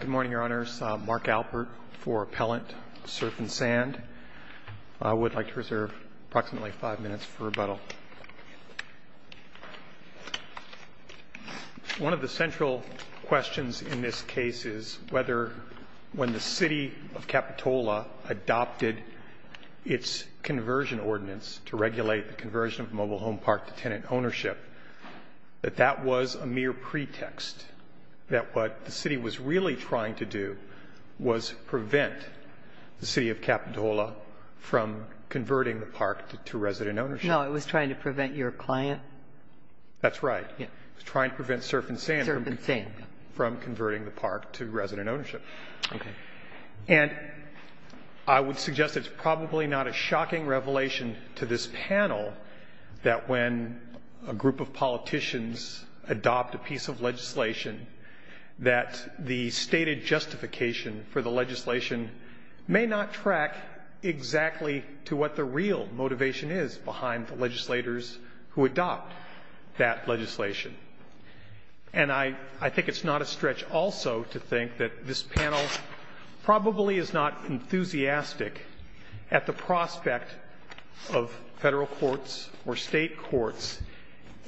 Good morning, Your Honors. Mark Alpert for Appellant, Surf and Sand. I would like to reserve approximately five minutes for rebuttal. One of the central questions in this case is whether, when the City of Capitola adopted its conversion ordinance to regulate the conversion of mobile home park to tenant ownership, that that was a mere pretext that what the City was really trying to do was prevent the City of Capitola from converting the park to resident ownership. No, it was trying to prevent your client. That's right. It was trying to prevent Surf and Sand from converting the park to resident ownership. Okay. And I would suggest it's probably not a shocking revelation to this panel that when a group of politicians adopt a piece of legislation, that the stated justification for the legislation may not track exactly to what the real motivation is behind the legislators who adopt that legislation. And I think it's not a stretch also to think that this panel probably is not enthusiastic at the prospect of Federal courts or State courts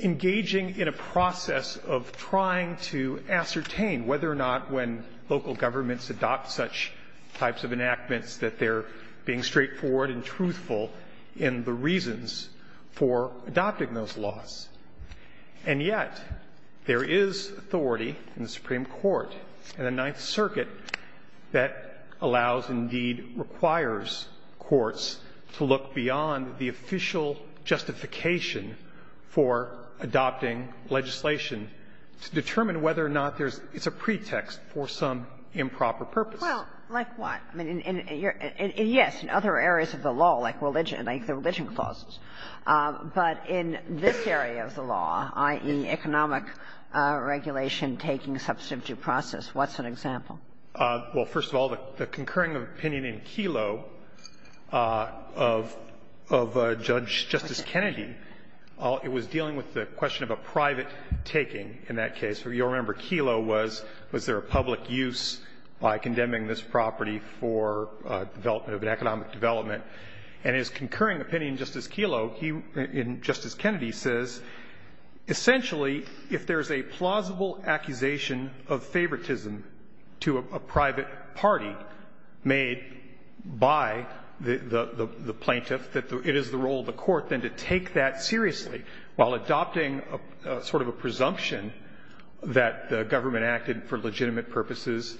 engaging in a process of trying to ascertain whether or not when local governments adopt such types of enactments that they're being straightforward and truthful in the reasons for adopting those laws. And yet, there is authority in the Supreme Court and the Ninth Circuit that allows, indeed requires, courts to look beyond the official justification for adopting legislation to determine whether or not there's – it's a pretext for some improper purpose. Well, like what? I mean, in your – yes, in other areas of the law, like religion, like the religion clauses. But in this area of the law, i.e., economic regulation taking substantive process, what's an example? Well, first of all, the concurring opinion in Kelo of Judge Justice Kennedy, it was dealing with the question of a private taking in that case. You'll remember Kelo was, was there a public use by condemning this property for development of an economic development, and his concurring opinion, Justice Kelo, he – and Justice Kennedy says essentially if there's a plausible accusation of favoritism to a private party made by the plaintiff that it is the role of the court then to take that seriously while adopting sort of a presumption that the government acted for legitimate purposes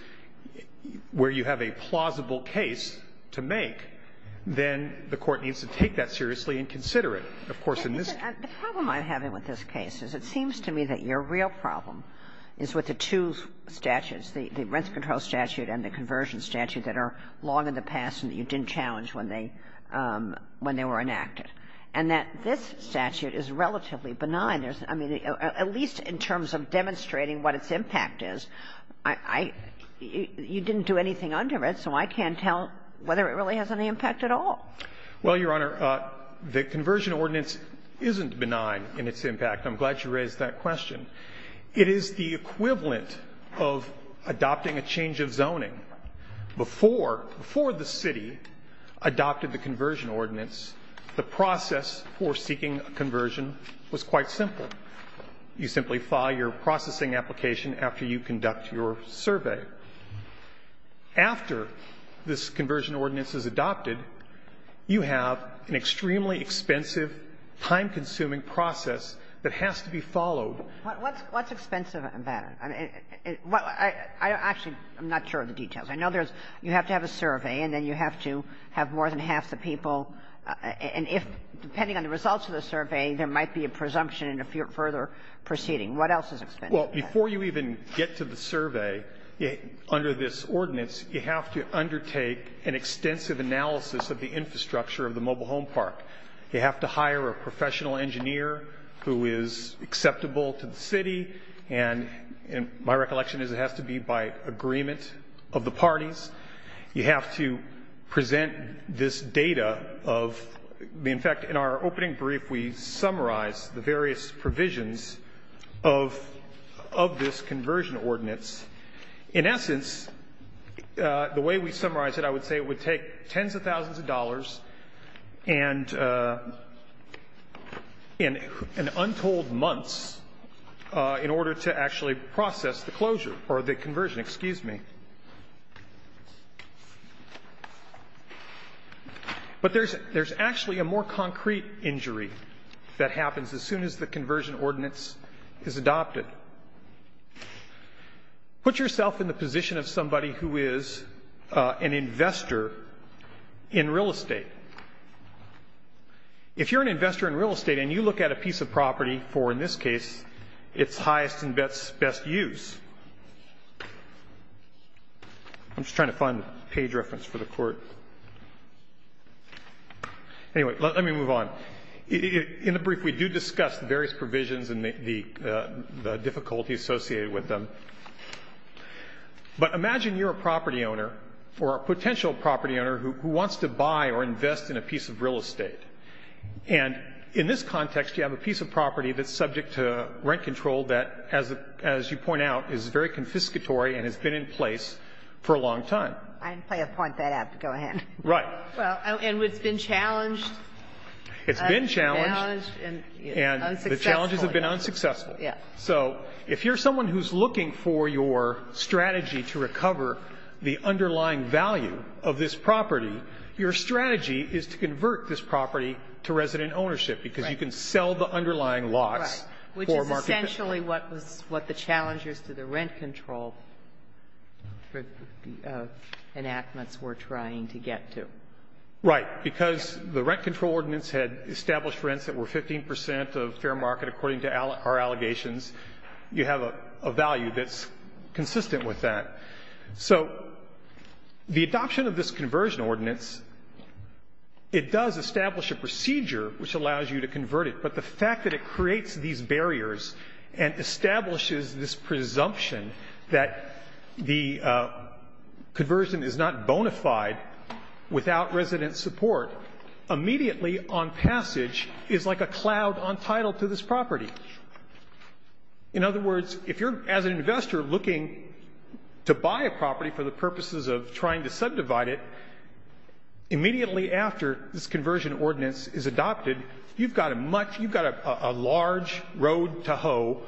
where you have a plausible case to make, then the court needs to take that seriously and consider it. Of course, in this case — The problem I'm having with this case is it seems to me that your real problem is with the two statutes, the – the rents control statute and the conversion statute that are long in the past and that you didn't challenge when they – when they were enacted, and that this statute is relatively benign. I mean, at least in terms of demonstrating what its impact is, I – you didn't do anything under it, so I can't tell whether it really has any impact at all. Well, Your Honor, the conversion ordinance isn't benign in its impact. I'm glad you raised that question. It is the equivalent of adopting a change of zoning. Before – before the city adopted the conversion ordinance, the process for seeking a conversion was quite simple. You simply file your processing application after you conduct your survey. After this conversion ordinance is adopted, you have an extremely expensive, time-consuming process that has to be followed. What's – what's expensive about it? I mean, what – I actually am not sure of the details. I know there's – you have to have a survey, and then you have to have more than half the people. And if, depending on the results of the survey, there might be a presumption in a further proceeding. What else is expensive? Well, before you even get to the survey, under this ordinance, you have to undertake an extensive analysis of the infrastructure of the mobile home park. You have to hire a professional engineer who is acceptable to the city. And my recollection is it has to be by agreement of the parties. You have to present this data of the – in fact, in our opening brief, we of this conversion ordinance. In essence, the way we summarize it, I would say it would take tens of thousands of dollars and – and untold months in order to actually process the closure or the conversion. Excuse me. But there's – there's actually a more concrete injury that happens as soon as the park is closed. Put yourself in the position of somebody who is an investor in real estate. If you're an investor in real estate and you look at a piece of property for, in this case, its highest and best use – I'm just trying to find the page reference for the court. Anyway, let me move on. In the brief, we do discuss the various provisions and the difficulties associated with them. But imagine you're a property owner or a potential property owner who wants to buy or invest in a piece of real estate. And in this context, you have a piece of property that's subject to rent control that, as you point out, is very confiscatory and has been in place for a long time. I didn't plan to point that out, but go ahead. Right. Well, and it's been challenged. It's been challenged. Challenged and unsuccessful. And the challenges have been unsuccessful. Yeah. So if you're someone who's looking for your strategy to recover the underlying value of this property, your strategy is to convert this property to resident property. The enactments we're trying to get to. Right. Because the rent control ordinance had established rents that were 15 percent of fair market according to our allegations. You have a value that's consistent with that. So the adoption of this conversion ordinance, it does establish a procedure which allows you to convert it. But the fact that it creates these barriers and establishes this presumption that the conversion is not bona fide without resident support, immediately on passage is like a cloud on title to this property. In other words, if you're, as an investor, looking to buy a property for the purposes of trying to subdivide it, immediately after this conversion ordinance was adopted, there was a road to hoe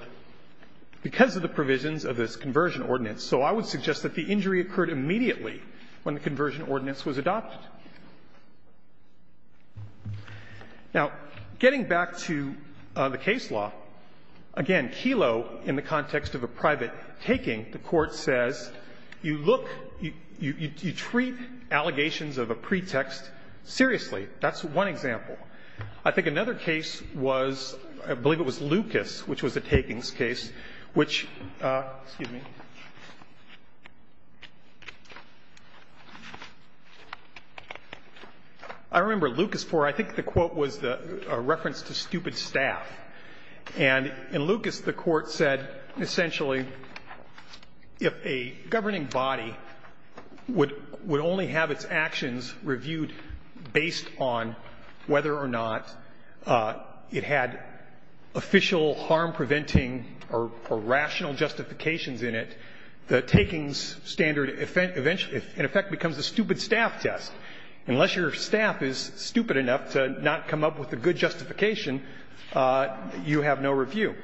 because of the provisions of this conversion ordinance. So I would suggest that the injury occurred immediately when the conversion ordinance was adopted. Now, getting back to the case law, again, Kelo, in the context of a private taking, the Court says you look, you treat allegations of a pretext seriously. That's one example. I think another case was, I believe it was Lucas, which was a takings case, which, excuse me. I remember Lucas 4, I think the quote was a reference to stupid staff. And in Lucas, the Court said essentially if a governing body would only have its actions reviewed based on whether or not it had official harm-preventing or rational justifications in it, the takings standard in effect becomes a stupid staff test. Unless your staff is stupid enough to not come up with a good justification, you have no review.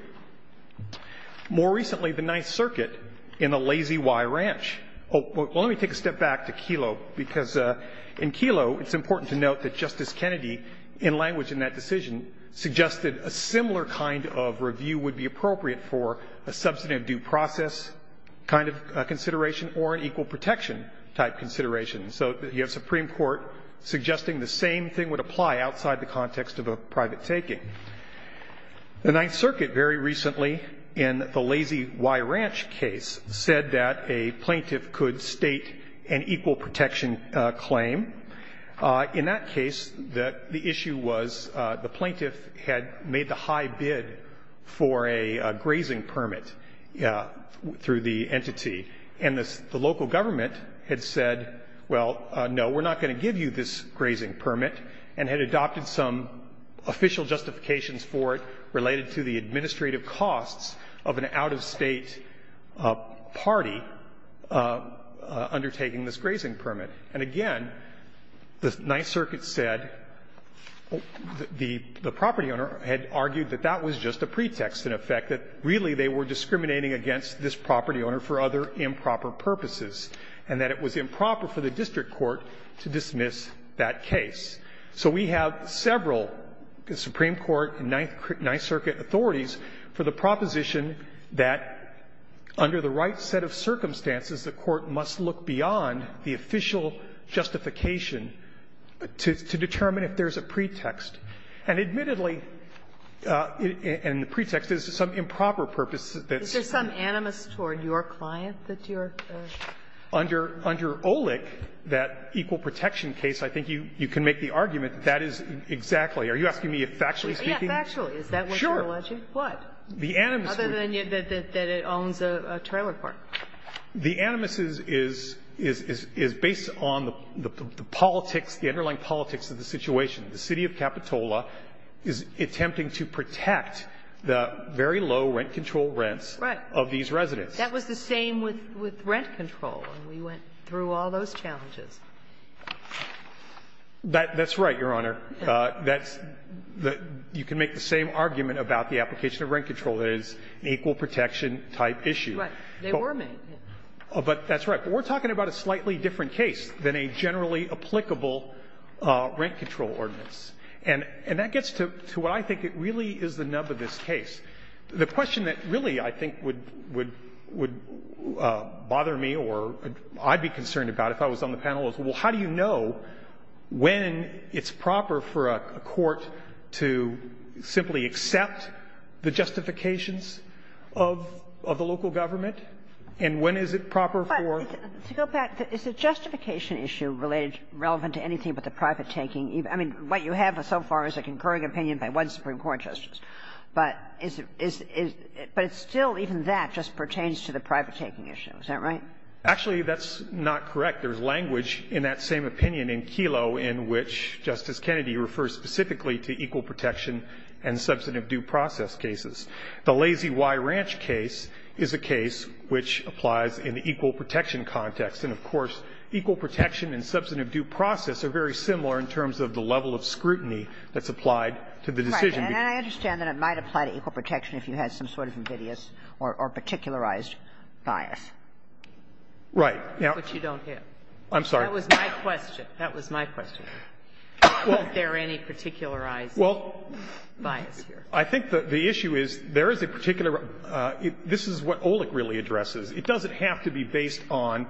More recently, the Ninth Circuit in the Lazy Y Ranch. Well, let me take a step back to Kelo, because in Kelo it's important to note that Justice Kennedy, in language in that decision, suggested a similar kind of review would be appropriate for a substantive due process kind of consideration or an equal protection type consideration. So you have a Supreme Court suggesting the same thing would apply outside the context of a private taking. The Ninth Circuit very recently in the Lazy Y Ranch case said that a plaintiff could state an equal protection claim. In that case, the issue was the plaintiff had made the high bid for a grazing permit through the entity, and the local government had said, well, no, we're not going to give you this grazing permit, and had adopted some official justifications for it related to the administrative costs of an out-of-State party undertaking this grazing permit. And again, the Ninth Circuit said the property owner had argued that that was just a pretext, in effect, that really they were discriminating against this property owner for other improper purposes, and that it was improper for the district court to dismiss that case. So we have several Supreme Court and Ninth Circuit authorities for the proposition that under the right set of circumstances, the court must look beyond the official justification to determine if there is a pretext. And admittedly, in the pretext, there is some improper purpose that's used. Kagan. Kagan. Is there some animus toward your client that you're using? Under OLEC, that equal protection case, I think you can make the argument that that is exactly. Are you asking me if factually speaking? Yes, factually. Is that what you're alleging? Sure. What? The animus. Other than that it owns a trailer park. The animus is based on the politics, the underlying politics of the situation. The City of Capitola is attempting to protect the very low rent control rents of these residents. Right. That was the same with rent control, and we went through all those challenges. That's right, Your Honor. That's the you can make the same argument about the application of rent control. It is an equal protection type issue. Right. They were made. But that's right. But we're talking about a slightly different case than a generally applicable rent control ordinance. And that gets to what I think it really is the nub of this case. The question that really I think would bother me or I'd be concerned about if I was on the panel is, well, how do you know when it's proper for a court to simply accept the justifications of the local government, and when is it proper for? To go back, is the justification issue related, relevant to anything but the private taking? I mean, what you have so far is a concurring opinion by one Supreme Court justice. But is it – but it's still even that just pertains to the private taking issue. Is that right? Actually, that's not correct. There's language in that same opinion in Kelo in which Justice Kennedy refers specifically to equal protection and substantive due process cases. The Lazy Y Ranch case is a case which applies in the equal protection context. And, of course, equal protection and substantive due process are very similar in terms of the level of scrutiny that's applied to the decision. Right. And I understand that it might apply to equal protection if you had some sort of invidious or particularized bias. Right. But you don't have. I'm sorry. That was my question. That was my question. Well – Is there any particularized bias here? I think the issue is there is a particular – this is what Olic really addresses. It doesn't have to be based on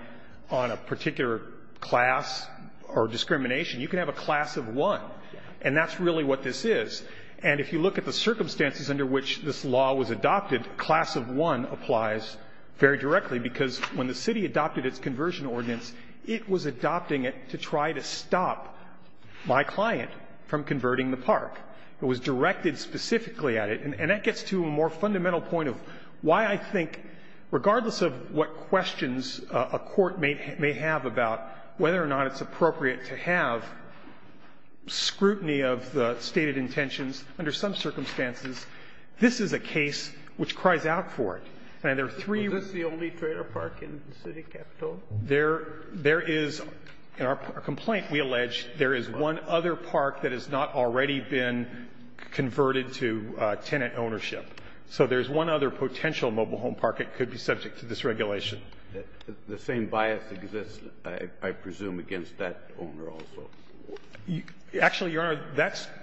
a particular class or discrimination. You can have a class of one. And that's really what this is. And if you look at the circumstances under which this law was adopted, class of one applies very directly, because when the city adopted its conversion ordinance, it was adopting it to try to stop my client from converting the park. It was directed specifically at it. And that gets to a more fundamental point of why I think, regardless of what questions a court may have about whether or not it's appropriate to have scrutiny of the stated intentions, under some circumstances, this is a case which cries out for it. And there are three – Is this the only trailer park in the city capital? There is – in our complaint, we allege there is one other park that has not already been converted to tenant ownership. So there is one other potential mobile home park that could be subject to this regulation. The same bias exists, I presume, against that owner also. Actually, Your Honor,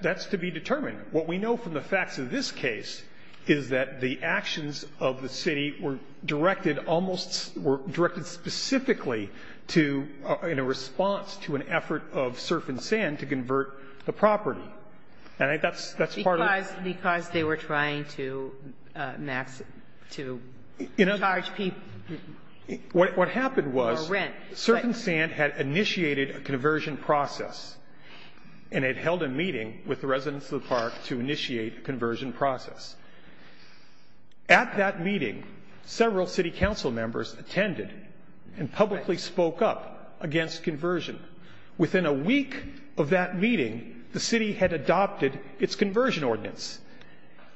that's to be determined. What we know from the facts of this case is that the actions of the city were directed almost – were directed specifically to – in a response to an effort of Surf and Sand to convert the property. And that's part of the – Because they were trying to max – to charge people for rent. Surf and Sand had initiated a conversion process, and it held a meeting with the residents of the park to initiate a conversion process. At that meeting, several city council members attended and publicly spoke up against conversion. Within a week of that meeting, the city had adopted its conversion ordinance.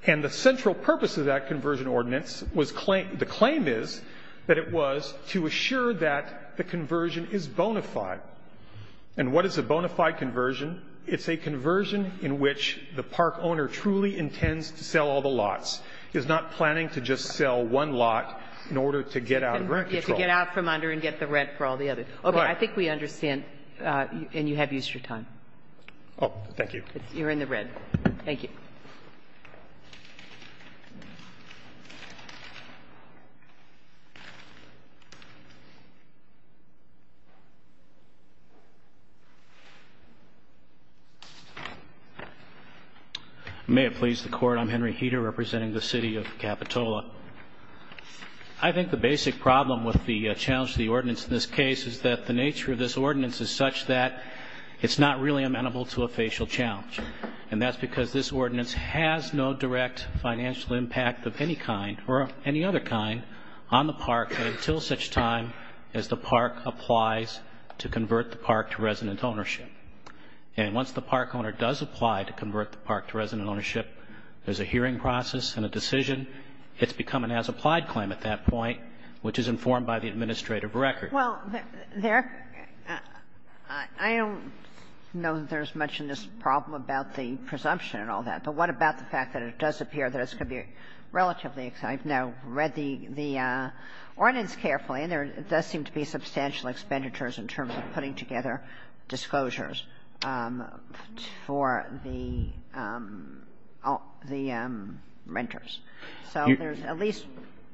And the central purpose of that conversion ordinance was – the claim is that it was to assure that the conversion is bona fide. And what is a bona fide conversion? It's a conversion in which the park owner truly intends to sell all the lots, is not planning to just sell one lot in order to get out of rent control. To get out from under and get the rent for all the others. Okay. I think we understand, and you have used your time. Oh, thank you. You're in the red. Thank you. Thank you. May it please the Court, I'm Henry Heter, representing the City of Capitola. I think the basic problem with the challenge to the ordinance in this case is that the nature of this ordinance is such that it's not really amenable to a facial challenge. And that's because this ordinance has no direct financial impact of any kind or any other kind on the park until such time as the park applies to convert the park to resident ownership. And once the park owner does apply to convert the park to resident ownership, there's a hearing process and a decision. It's become an as-applied claim at that point, which is informed by the administrative Well, there, I don't know that there's much in this problem about the presumption and all that. But what about the fact that it does appear that it's going to be relatively exciting? I've now read the ordinance carefully, and there does seem to be substantial expenditures in terms of putting together disclosures for the renters. So there's at least,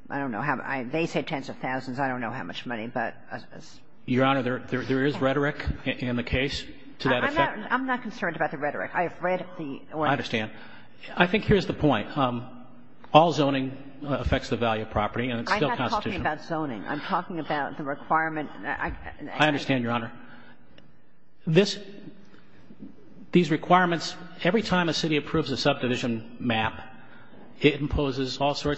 I don't know, they say tens of thousands. I don't know how much money, but. Your Honor, there is rhetoric in the case to that effect. I'm not concerned about the rhetoric. I have read the ordinance. I understand. I think here's the point. All zoning affects the value of property, and it's still constitutional. I'm not talking about zoning. I'm talking about the requirement. I understand, Your Honor. This, these requirements, every time a city approves a subdivision map, it imposes all things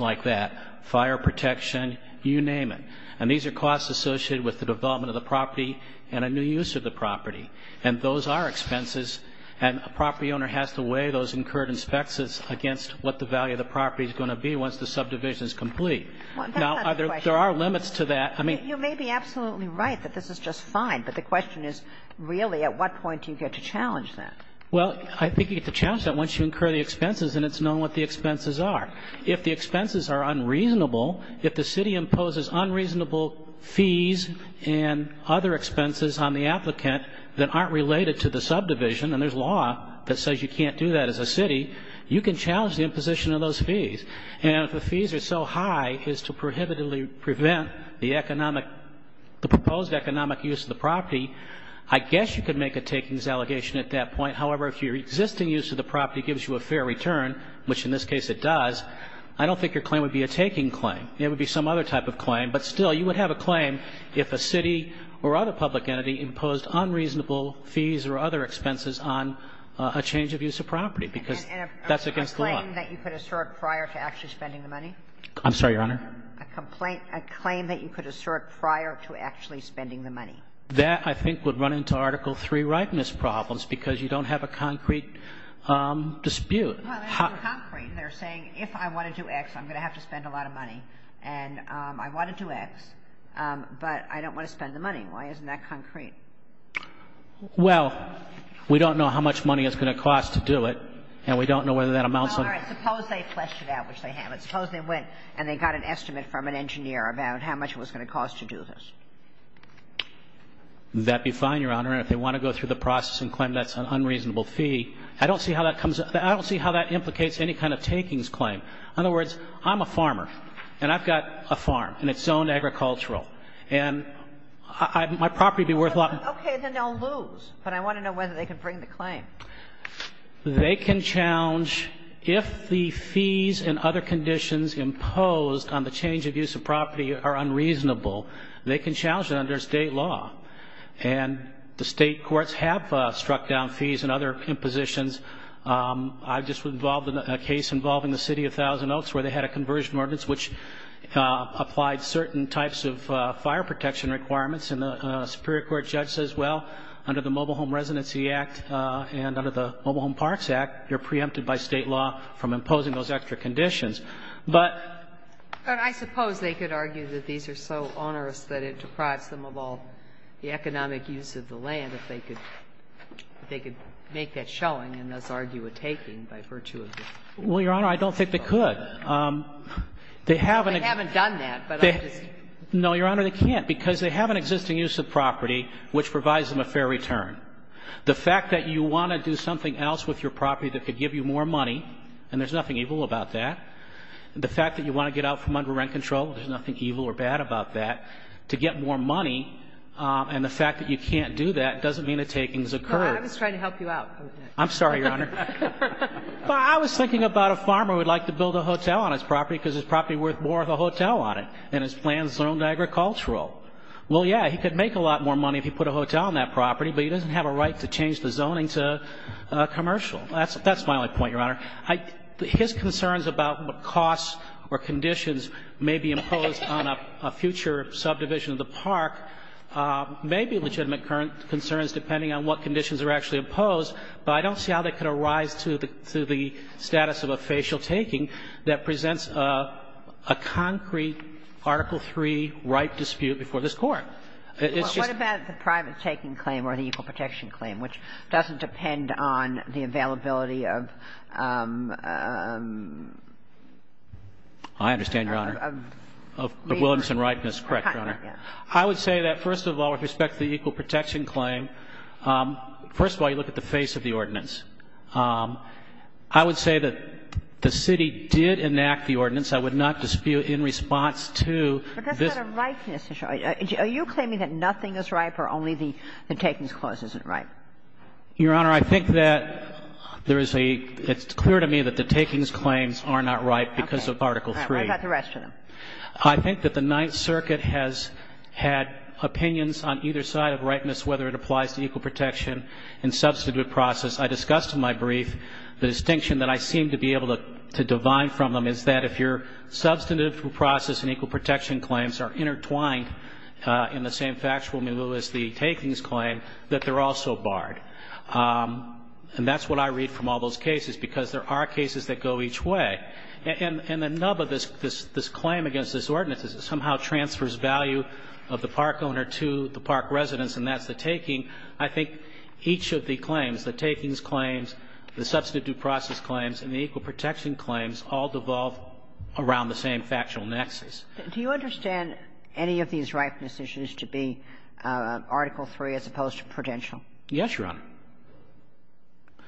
like that, fire protection, you name it. And these are costs associated with the development of the property and a new use of the property. And those are expenses, and a property owner has to weigh those incurred inspections against what the value of the property is going to be once the subdivision is complete. Now, there are limits to that. I mean. You may be absolutely right that this is just fine, but the question is really at what point do you get to challenge that? Well, I think you get to challenge that once you incur the expenses and it's known what the expenses are. If the expenses are unreasonable, if the city imposes unreasonable fees and other expenses on the applicant that aren't related to the subdivision, and there's law that says you can't do that as a city, you can challenge the imposition of those fees. And if the fees are so high as to prohibitively prevent the economic, the proposed economic use of the property, I guess you could make a takings allegation at that point. However, if your existing use of the property gives you a fair return, which in this case it does, I don't think your claim would be a taking claim. It would be some other type of claim, but still you would have a claim if a city or other public entity imposed unreasonable fees or other expenses on a change of use of property, because that's against the law. And a claim that you could assert prior to actually spending the money? I'm sorry, Your Honor? A complaint or a claim that you could assert prior to actually spending the money. That, I think, would run into Article III rightness problems, because you don't have a concrete dispute. Well, that's not concrete. They're saying, if I want to do X, I'm going to have to spend a lot of money. And I want to do X, but I don't want to spend the money. Why isn't that concrete? Well, we don't know how much money it's going to cost to do it, and we don't know whether that amounts to anything. All right. Suppose they fleshed it out, which they haven't. Suppose they went and they got an estimate from an engineer about how much it was going to cost to do this. That would be fine, Your Honor. And if they want to go through the process and claim that's an unreasonable fee, I don't see how that comes up. I don't see how that implicates any kind of takings claim. In other words, I'm a farmer, and I've got a farm, and it's zoned agricultural. And my property would be worth a lot. Okay. Then they'll lose. But I want to know whether they can bring the claim. They can challenge, if the fees and other conditions imposed on the change of use of property are unreasonable, they can challenge it under State law. And the State courts have struck down fees and other impositions. I'm just involved in a case involving the City of Thousand Oaks where they had a conversion ordinance which applied certain types of fire protection requirements. And the Superior Court judge says, well, under the Mobile Home Residency Act and under the Mobile Home Parts Act, you're preempted by State law from imposing those extra conditions. But I suppose they could argue that these are so onerous that it deprives them of all the economic use of the land if they could make that showing and thus argue a taking by virtue of this. Well, Your Honor, I don't think they could. They haven't done that. No, Your Honor, they can't, because they have an existing use of property which provides them a fair return. The fact that you want to do something else with your property that could give you more money, and there's nothing evil about that. The fact that you want to get out from under rent control, there's nothing evil or bad about that. To get more money, and the fact that you can't do that doesn't mean a taking has occurred. No, I was trying to help you out. I'm sorry, Your Honor. Well, I was thinking about a farmer who would like to build a hotel on his property because his property is worth more than a hotel on it, and his plan is zoned agricultural. Well, yeah, he could make a lot more money if he put a hotel on that property, but he doesn't have a right to change the zoning to commercial. That's my only point, Your Honor. His concerns about what costs or conditions may be imposed on a future subdivision of the park may be legitimate concerns depending on what conditions are actually imposed, but I don't see how they could arise to the status of a facial taking that presents a concrete Article III right dispute before this Court. It's just that the private taking claim or the equal protection claim, which doesn't depend on the availability of... I understand, Your Honor, of Williamson ripeness. Correct, Your Honor. I would say that, first of all, with respect to the equal protection claim, first of all, you look at the face of the ordinance. I would say that the city did enact the ordinance. I would not dispute in response to this... But that's not a ripeness issue. Are you claiming that nothing is ripe or only the takings clause isn't ripe? Your Honor, I think that there is a — it's clear to me that the takings claims are not ripe because of Article III. Okay. All right. What about the rest of them? I think that the Ninth Circuit has had opinions on either side of ripeness, whether it applies to equal protection and substantive process. I discussed in my brief the distinction that I seem to be able to divine from them is that if your substantive process and equal protection claims are intertwined in the same factual milieu as the takings claim, that they're also barred. And that's what I read from all those cases, because there are cases that go each way. And the nub of this claim against this ordinance is it somehow transfers value of the park owner to the park residents, and that's the taking. I think each of the claims, the takings claims, the substantive due process claims, and the equal protection claims all devolve around the same factual nexus. Do you understand any of these ripeness issues to be Article III as opposed to prudential? Yes, Your Honor.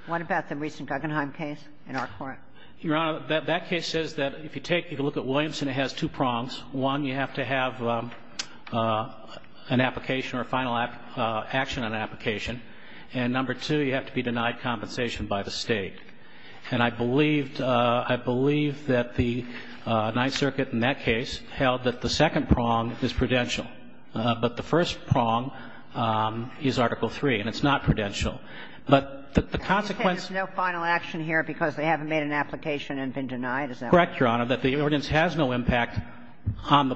What about the recent Guggenheim case in our court? Your Honor, that case says that if you take — if you look at Williamson, it has two prongs. One, you have to have an application or a final action on an application. And number two, you have to be denied compensation by the State. And I believed — I believe that the Ninth Circuit in that case held that the second prong is prudential. But the first prong is Article III, and it's not prudential. But the consequence — Are you saying there's no final action here because they haven't made an application and been denied? Is that what you're saying? Correct, Your Honor, that the ordinance has no impact on the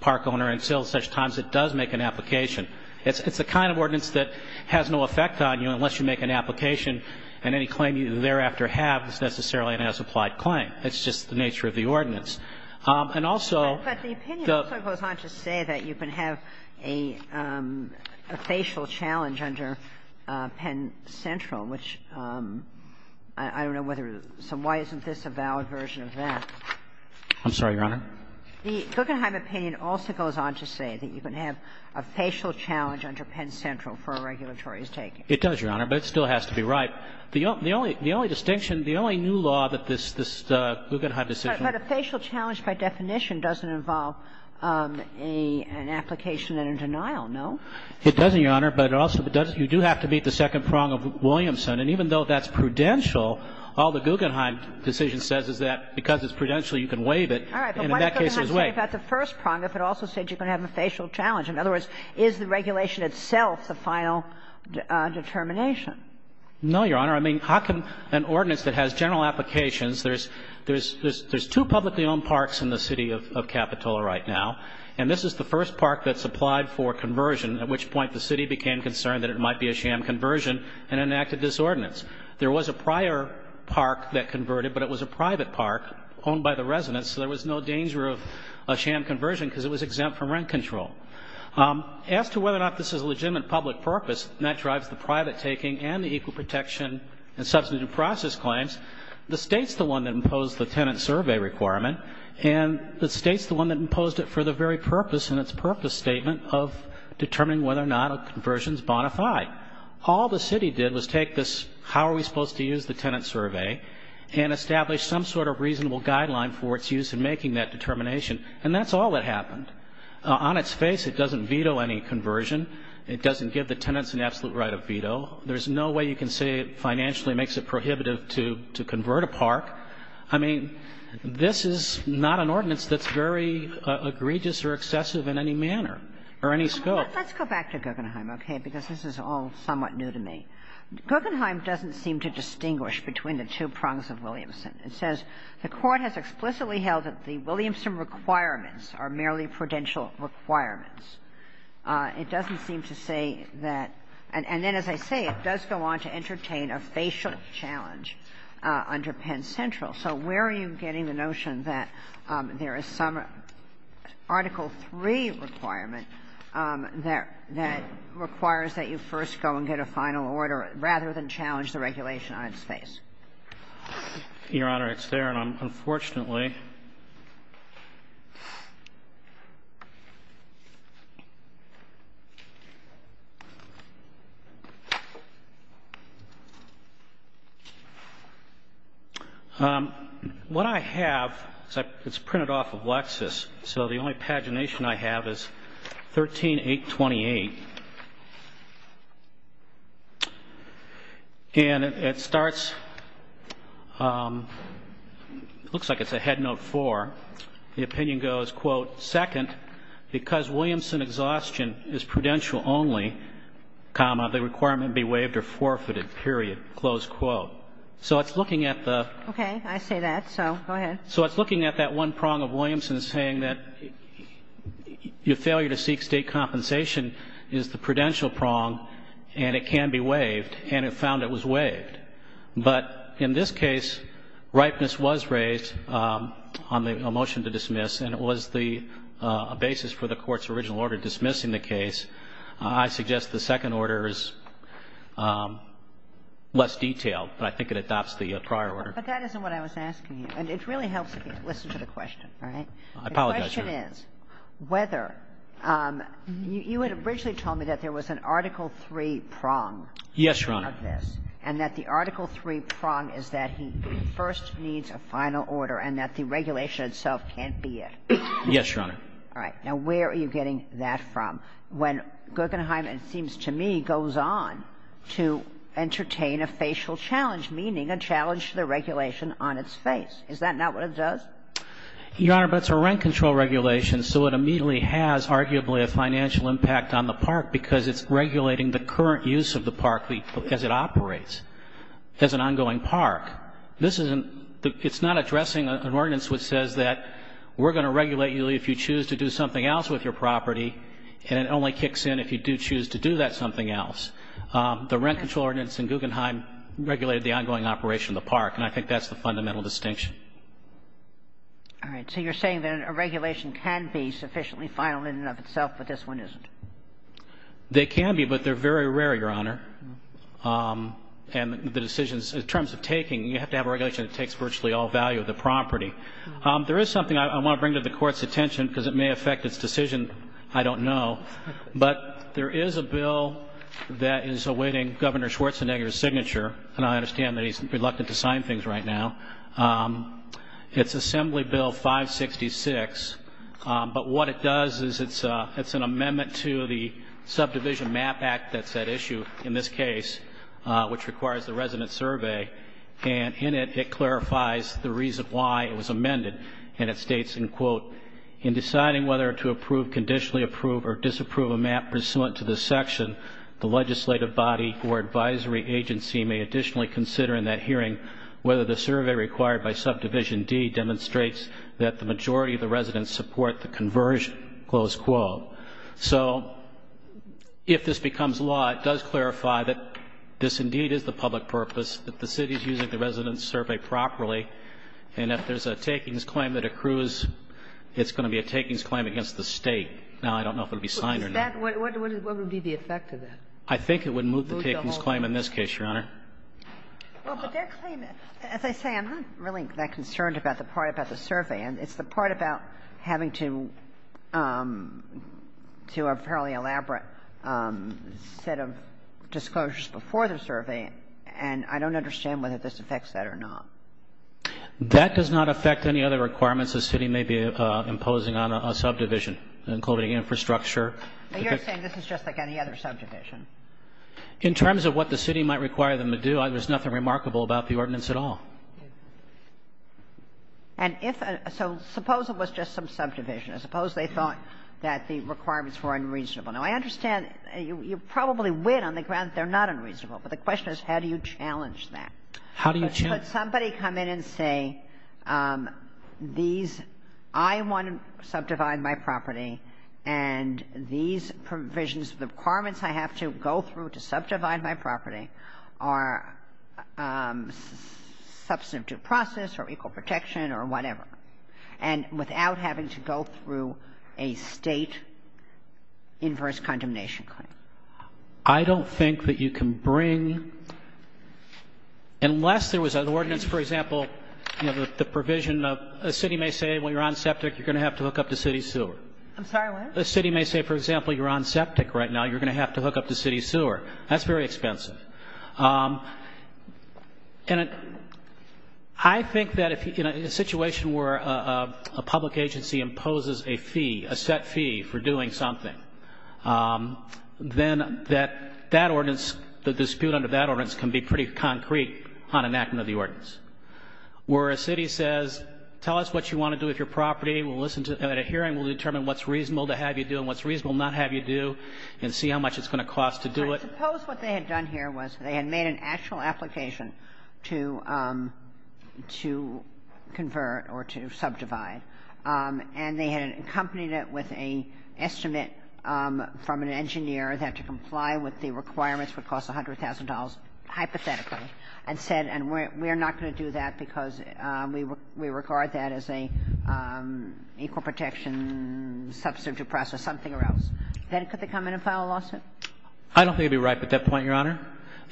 park owner until at such times it does make an application. It's the kind of ordinance that has no effect on you unless you make an application and any claim you thereafter have is necessarily an as-applied claim. It's just the nature of the ordinance. And also the — But the opinion also goes on to say that you can have a facial challenge under Penn Central, which I don't know whether — so why isn't this a valid version of that? I'm sorry, Your Honor? The Guggenheim opinion also goes on to say that you can have a facial challenge under Penn Central for a regulatory's taking. It does, Your Honor. But it still has to be right. The only distinction, the only new law that this Guggenheim decision — But a facial challenge by definition doesn't involve an application and a denial, no? It doesn't, Your Honor. But it also doesn't — you do have to meet the second prong of Williamson. And even though that's prudential, all the Guggenheim decision says is that because it's prudential, you can waive it, and in that case it's waived. All right. But why does Guggenheim say that's the first prong if it also says you're going to have a facial challenge? In other words, is the regulation itself the final determination? No, Your Honor. I mean, how can an ordinance that has general applications — there's two publicly owned parks in the city of Capitola right now, and this is the first park that's applied for conversion, at which point the city became concerned that it might be a sham conversion and enacted this ordinance. There was a prior park that converted, but it was a private park owned by the residents, so there was no danger of a sham conversion because it was exempt from rent control. As to whether or not this is a legitimate public purpose, and that drives the private taking and the equal protection and substantive process claims, the State's the one that imposed the tenant survey requirement, and the State's the one that imposed it for the very purpose in its purpose statement of determining whether or not a conversion is bona fide. All the city did was take this how are we supposed to use the tenant survey and establish some sort of reasonable guideline for its use in making that determination. And that's all that happened. On its face, it doesn't veto any conversion. It doesn't give the tenants an absolute right of veto. There's no way you can say it financially makes it prohibitive to convert a park. I mean, this is not an ordinance that's very egregious or excessive in any manner or any scope. Let's go back to Guggenheim, okay, because this is all somewhat new to me. Guggenheim doesn't seem to distinguish between the two prongs of Williamson. It says the Court has explicitly held that the Williamson requirements are merely prudential requirements. It doesn't seem to say that – and then, as I say, it does go on to entertain a facial challenge under Penn Central. So where are you getting the notion that there is some Article III requirement that requires that you first go and get a final order rather than challenge the regulation on its face? Your Honor, it's there, and I'm – unfortunately. What I have, it's printed off of Lexis. So the only pagination I have is 13-828. And it starts – it looks like it's a head note 4. The opinion goes, quote, second, because Williamson exhaustion is prudential only, comma, the requirement be waived or forfeited, period, close quote. So it's looking at the – Okay. I say that. So go ahead. So it's looking at that one prong of Williamson saying that your failure to seek State compensation is the prudential prong and it can be waived, and it found it was waived. But in this case, ripeness was raised on the motion to dismiss, and it was the basis for the Court's original order dismissing the case. I suggest the second order is less detailed, but I think it adopts the prior order. But that isn't what I was asking you. And it really helps if you listen to the question. All right? I apologize, Your Honor. The question is whether – you had originally told me that there was an Article 3 prong of this. Yes, Your Honor. And that the Article 3 prong is that he first needs a final order and that the regulation itself can't be it. Yes, Your Honor. All right. Now, where are you getting that from? When Guggenheim, it seems to me, goes on to entertain a facial challenge, meaning a challenge to the regulation on its face. Is that not what it does? Your Honor, but it's a rent control regulation, so it immediately has arguably a financial impact on the park because it's regulating the current use of the park as it operates, as an ongoing park. This isn't – it's not addressing an ordinance which says that we're going to regulate you if you choose to do something else with your property, and it only kicks in if you do choose to do that something else. The rent control ordinance in Guggenheim regulated the ongoing operation of the park, and I think that's the fundamental distinction. All right. So you're saying that a regulation can be sufficiently final in and of itself, but this one isn't? They can be, but they're very rare, Your Honor. And the decisions – in terms of taking, you have to have a regulation that takes virtually all value of the property. There is something I want to bring to the Court's attention because it may affect its decision. I don't know. But there is a bill that is awaiting Governor Schwarzenegger's signature, and I understand that he's reluctant to sign things right now. It's Assembly Bill 566, but what it does is it's an amendment to the Subdivision Map Act that's at issue in this case, which requires the resident survey. And in it, it clarifies the reason why it was amended, and it states, in deciding whether to approve, conditionally approve, or disapprove a map pursuant to this section, the legislative body or advisory agency may additionally consider in that hearing whether the survey required by Subdivision D demonstrates that the majority of the residents support the conversion. So if this becomes law, it does clarify that this indeed is the public purpose, that the city is using the resident survey properly, and if there's a takings claim that accrues, it's going to be a takings claim against the State. Now, I don't know if it will be signed or not. What would be the effect of that? I think it would move the takings claim in this case, Your Honor. Well, but their claim, as I say, I'm not really that concerned about the part about the survey, and it's the part about having to do a fairly elaborate set of disclosures before the survey, and I don't understand whether this affects that or not. That does not affect any other requirements the city may be imposing on a subdivision, including infrastructure. But you're saying this is just like any other subdivision? In terms of what the city might require them to do, there's nothing remarkable about the ordinance at all. And if so, suppose it was just some subdivision. Suppose they thought that the requirements were unreasonable. Now, I understand you probably win on the grounds they're not unreasonable, but the question is how do you challenge that? How do you challenge that? Could somebody come in and say, these – I want to subdivide my property, and these provisions, the requirements I have to go through to subdivide my property are substantive due process or equal protection or whatever, and without having to go through a State inverse condemnation claim? I don't think that you can bring – unless there was an ordinance, for example, you know, the provision of a city may say, well, you're on septic, you're going to have to hook up to city sewer. I'm sorry, what? A city may say, for example, you're on septic right now, you're going to have to hook up to city sewer. That's very expensive. And I think that in a situation where a public agency imposes a fee, a set fee for doing something, then that that ordinance, the dispute under that ordinance can be pretty concrete on enactment of the ordinance. Where a city says, tell us what you want to do with your property, we'll listen to – at a hearing we'll determine what's reasonable to have you do and what's reasonable not have you do and see how much it's going to cost to do it. I suppose what they had done here was they had made an actual application to convert or to subdivide, and they had accompanied it with an estimate from an engineer that to comply with the requirements would cost $100,000 hypothetically and said, and we're not going to do that because we regard that as an equal protection substitute process, something or else. Then could they come in and file a lawsuit? I don't think it would be ripe at that point, Your Honor.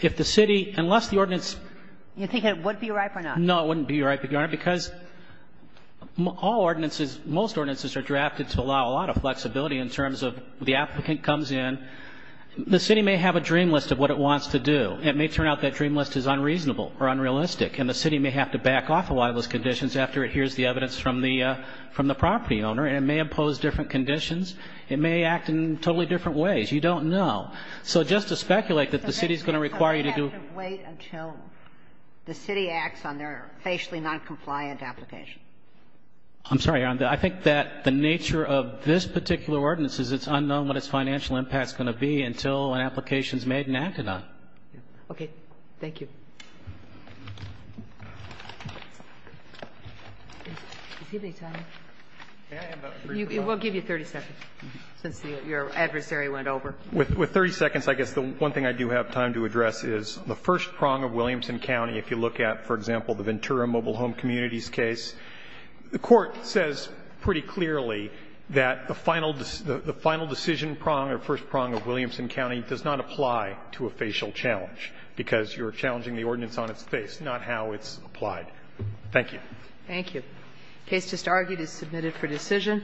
If the city – unless the ordinance – You think it would be ripe or not? No, it wouldn't be ripe, Your Honor. Because all ordinances, most ordinances are drafted to allow a lot of flexibility in terms of the applicant comes in. The city may have a dream list of what it wants to do. It may turn out that dream list is unreasonable or unrealistic, and the city may have to back off a lot of those conditions after it hears the evidence from the property owner, and it may impose different conditions. It may act in totally different ways. You don't know. So just to speculate that the city is going to require you to do – the city acts on their facially noncompliant application. I'm sorry, Your Honor. I think that the nature of this particular ordinance is it's unknown what its financial impact is going to be until an application is made and acted on. Okay. Thank you. Does anybody have time? We'll give you 30 seconds, since your adversary went over. With 30 seconds, I guess the one thing I do have time to address is the first prong of Williamson County. If you look at, for example, the Ventura mobile home communities case, the Court says pretty clearly that the final decision prong or first prong of Williamson County does not apply to a facial challenge, because you're challenging the ordinance on its face, not how it's applied. Thank you. Thank you. The case just argued is submitted for decision.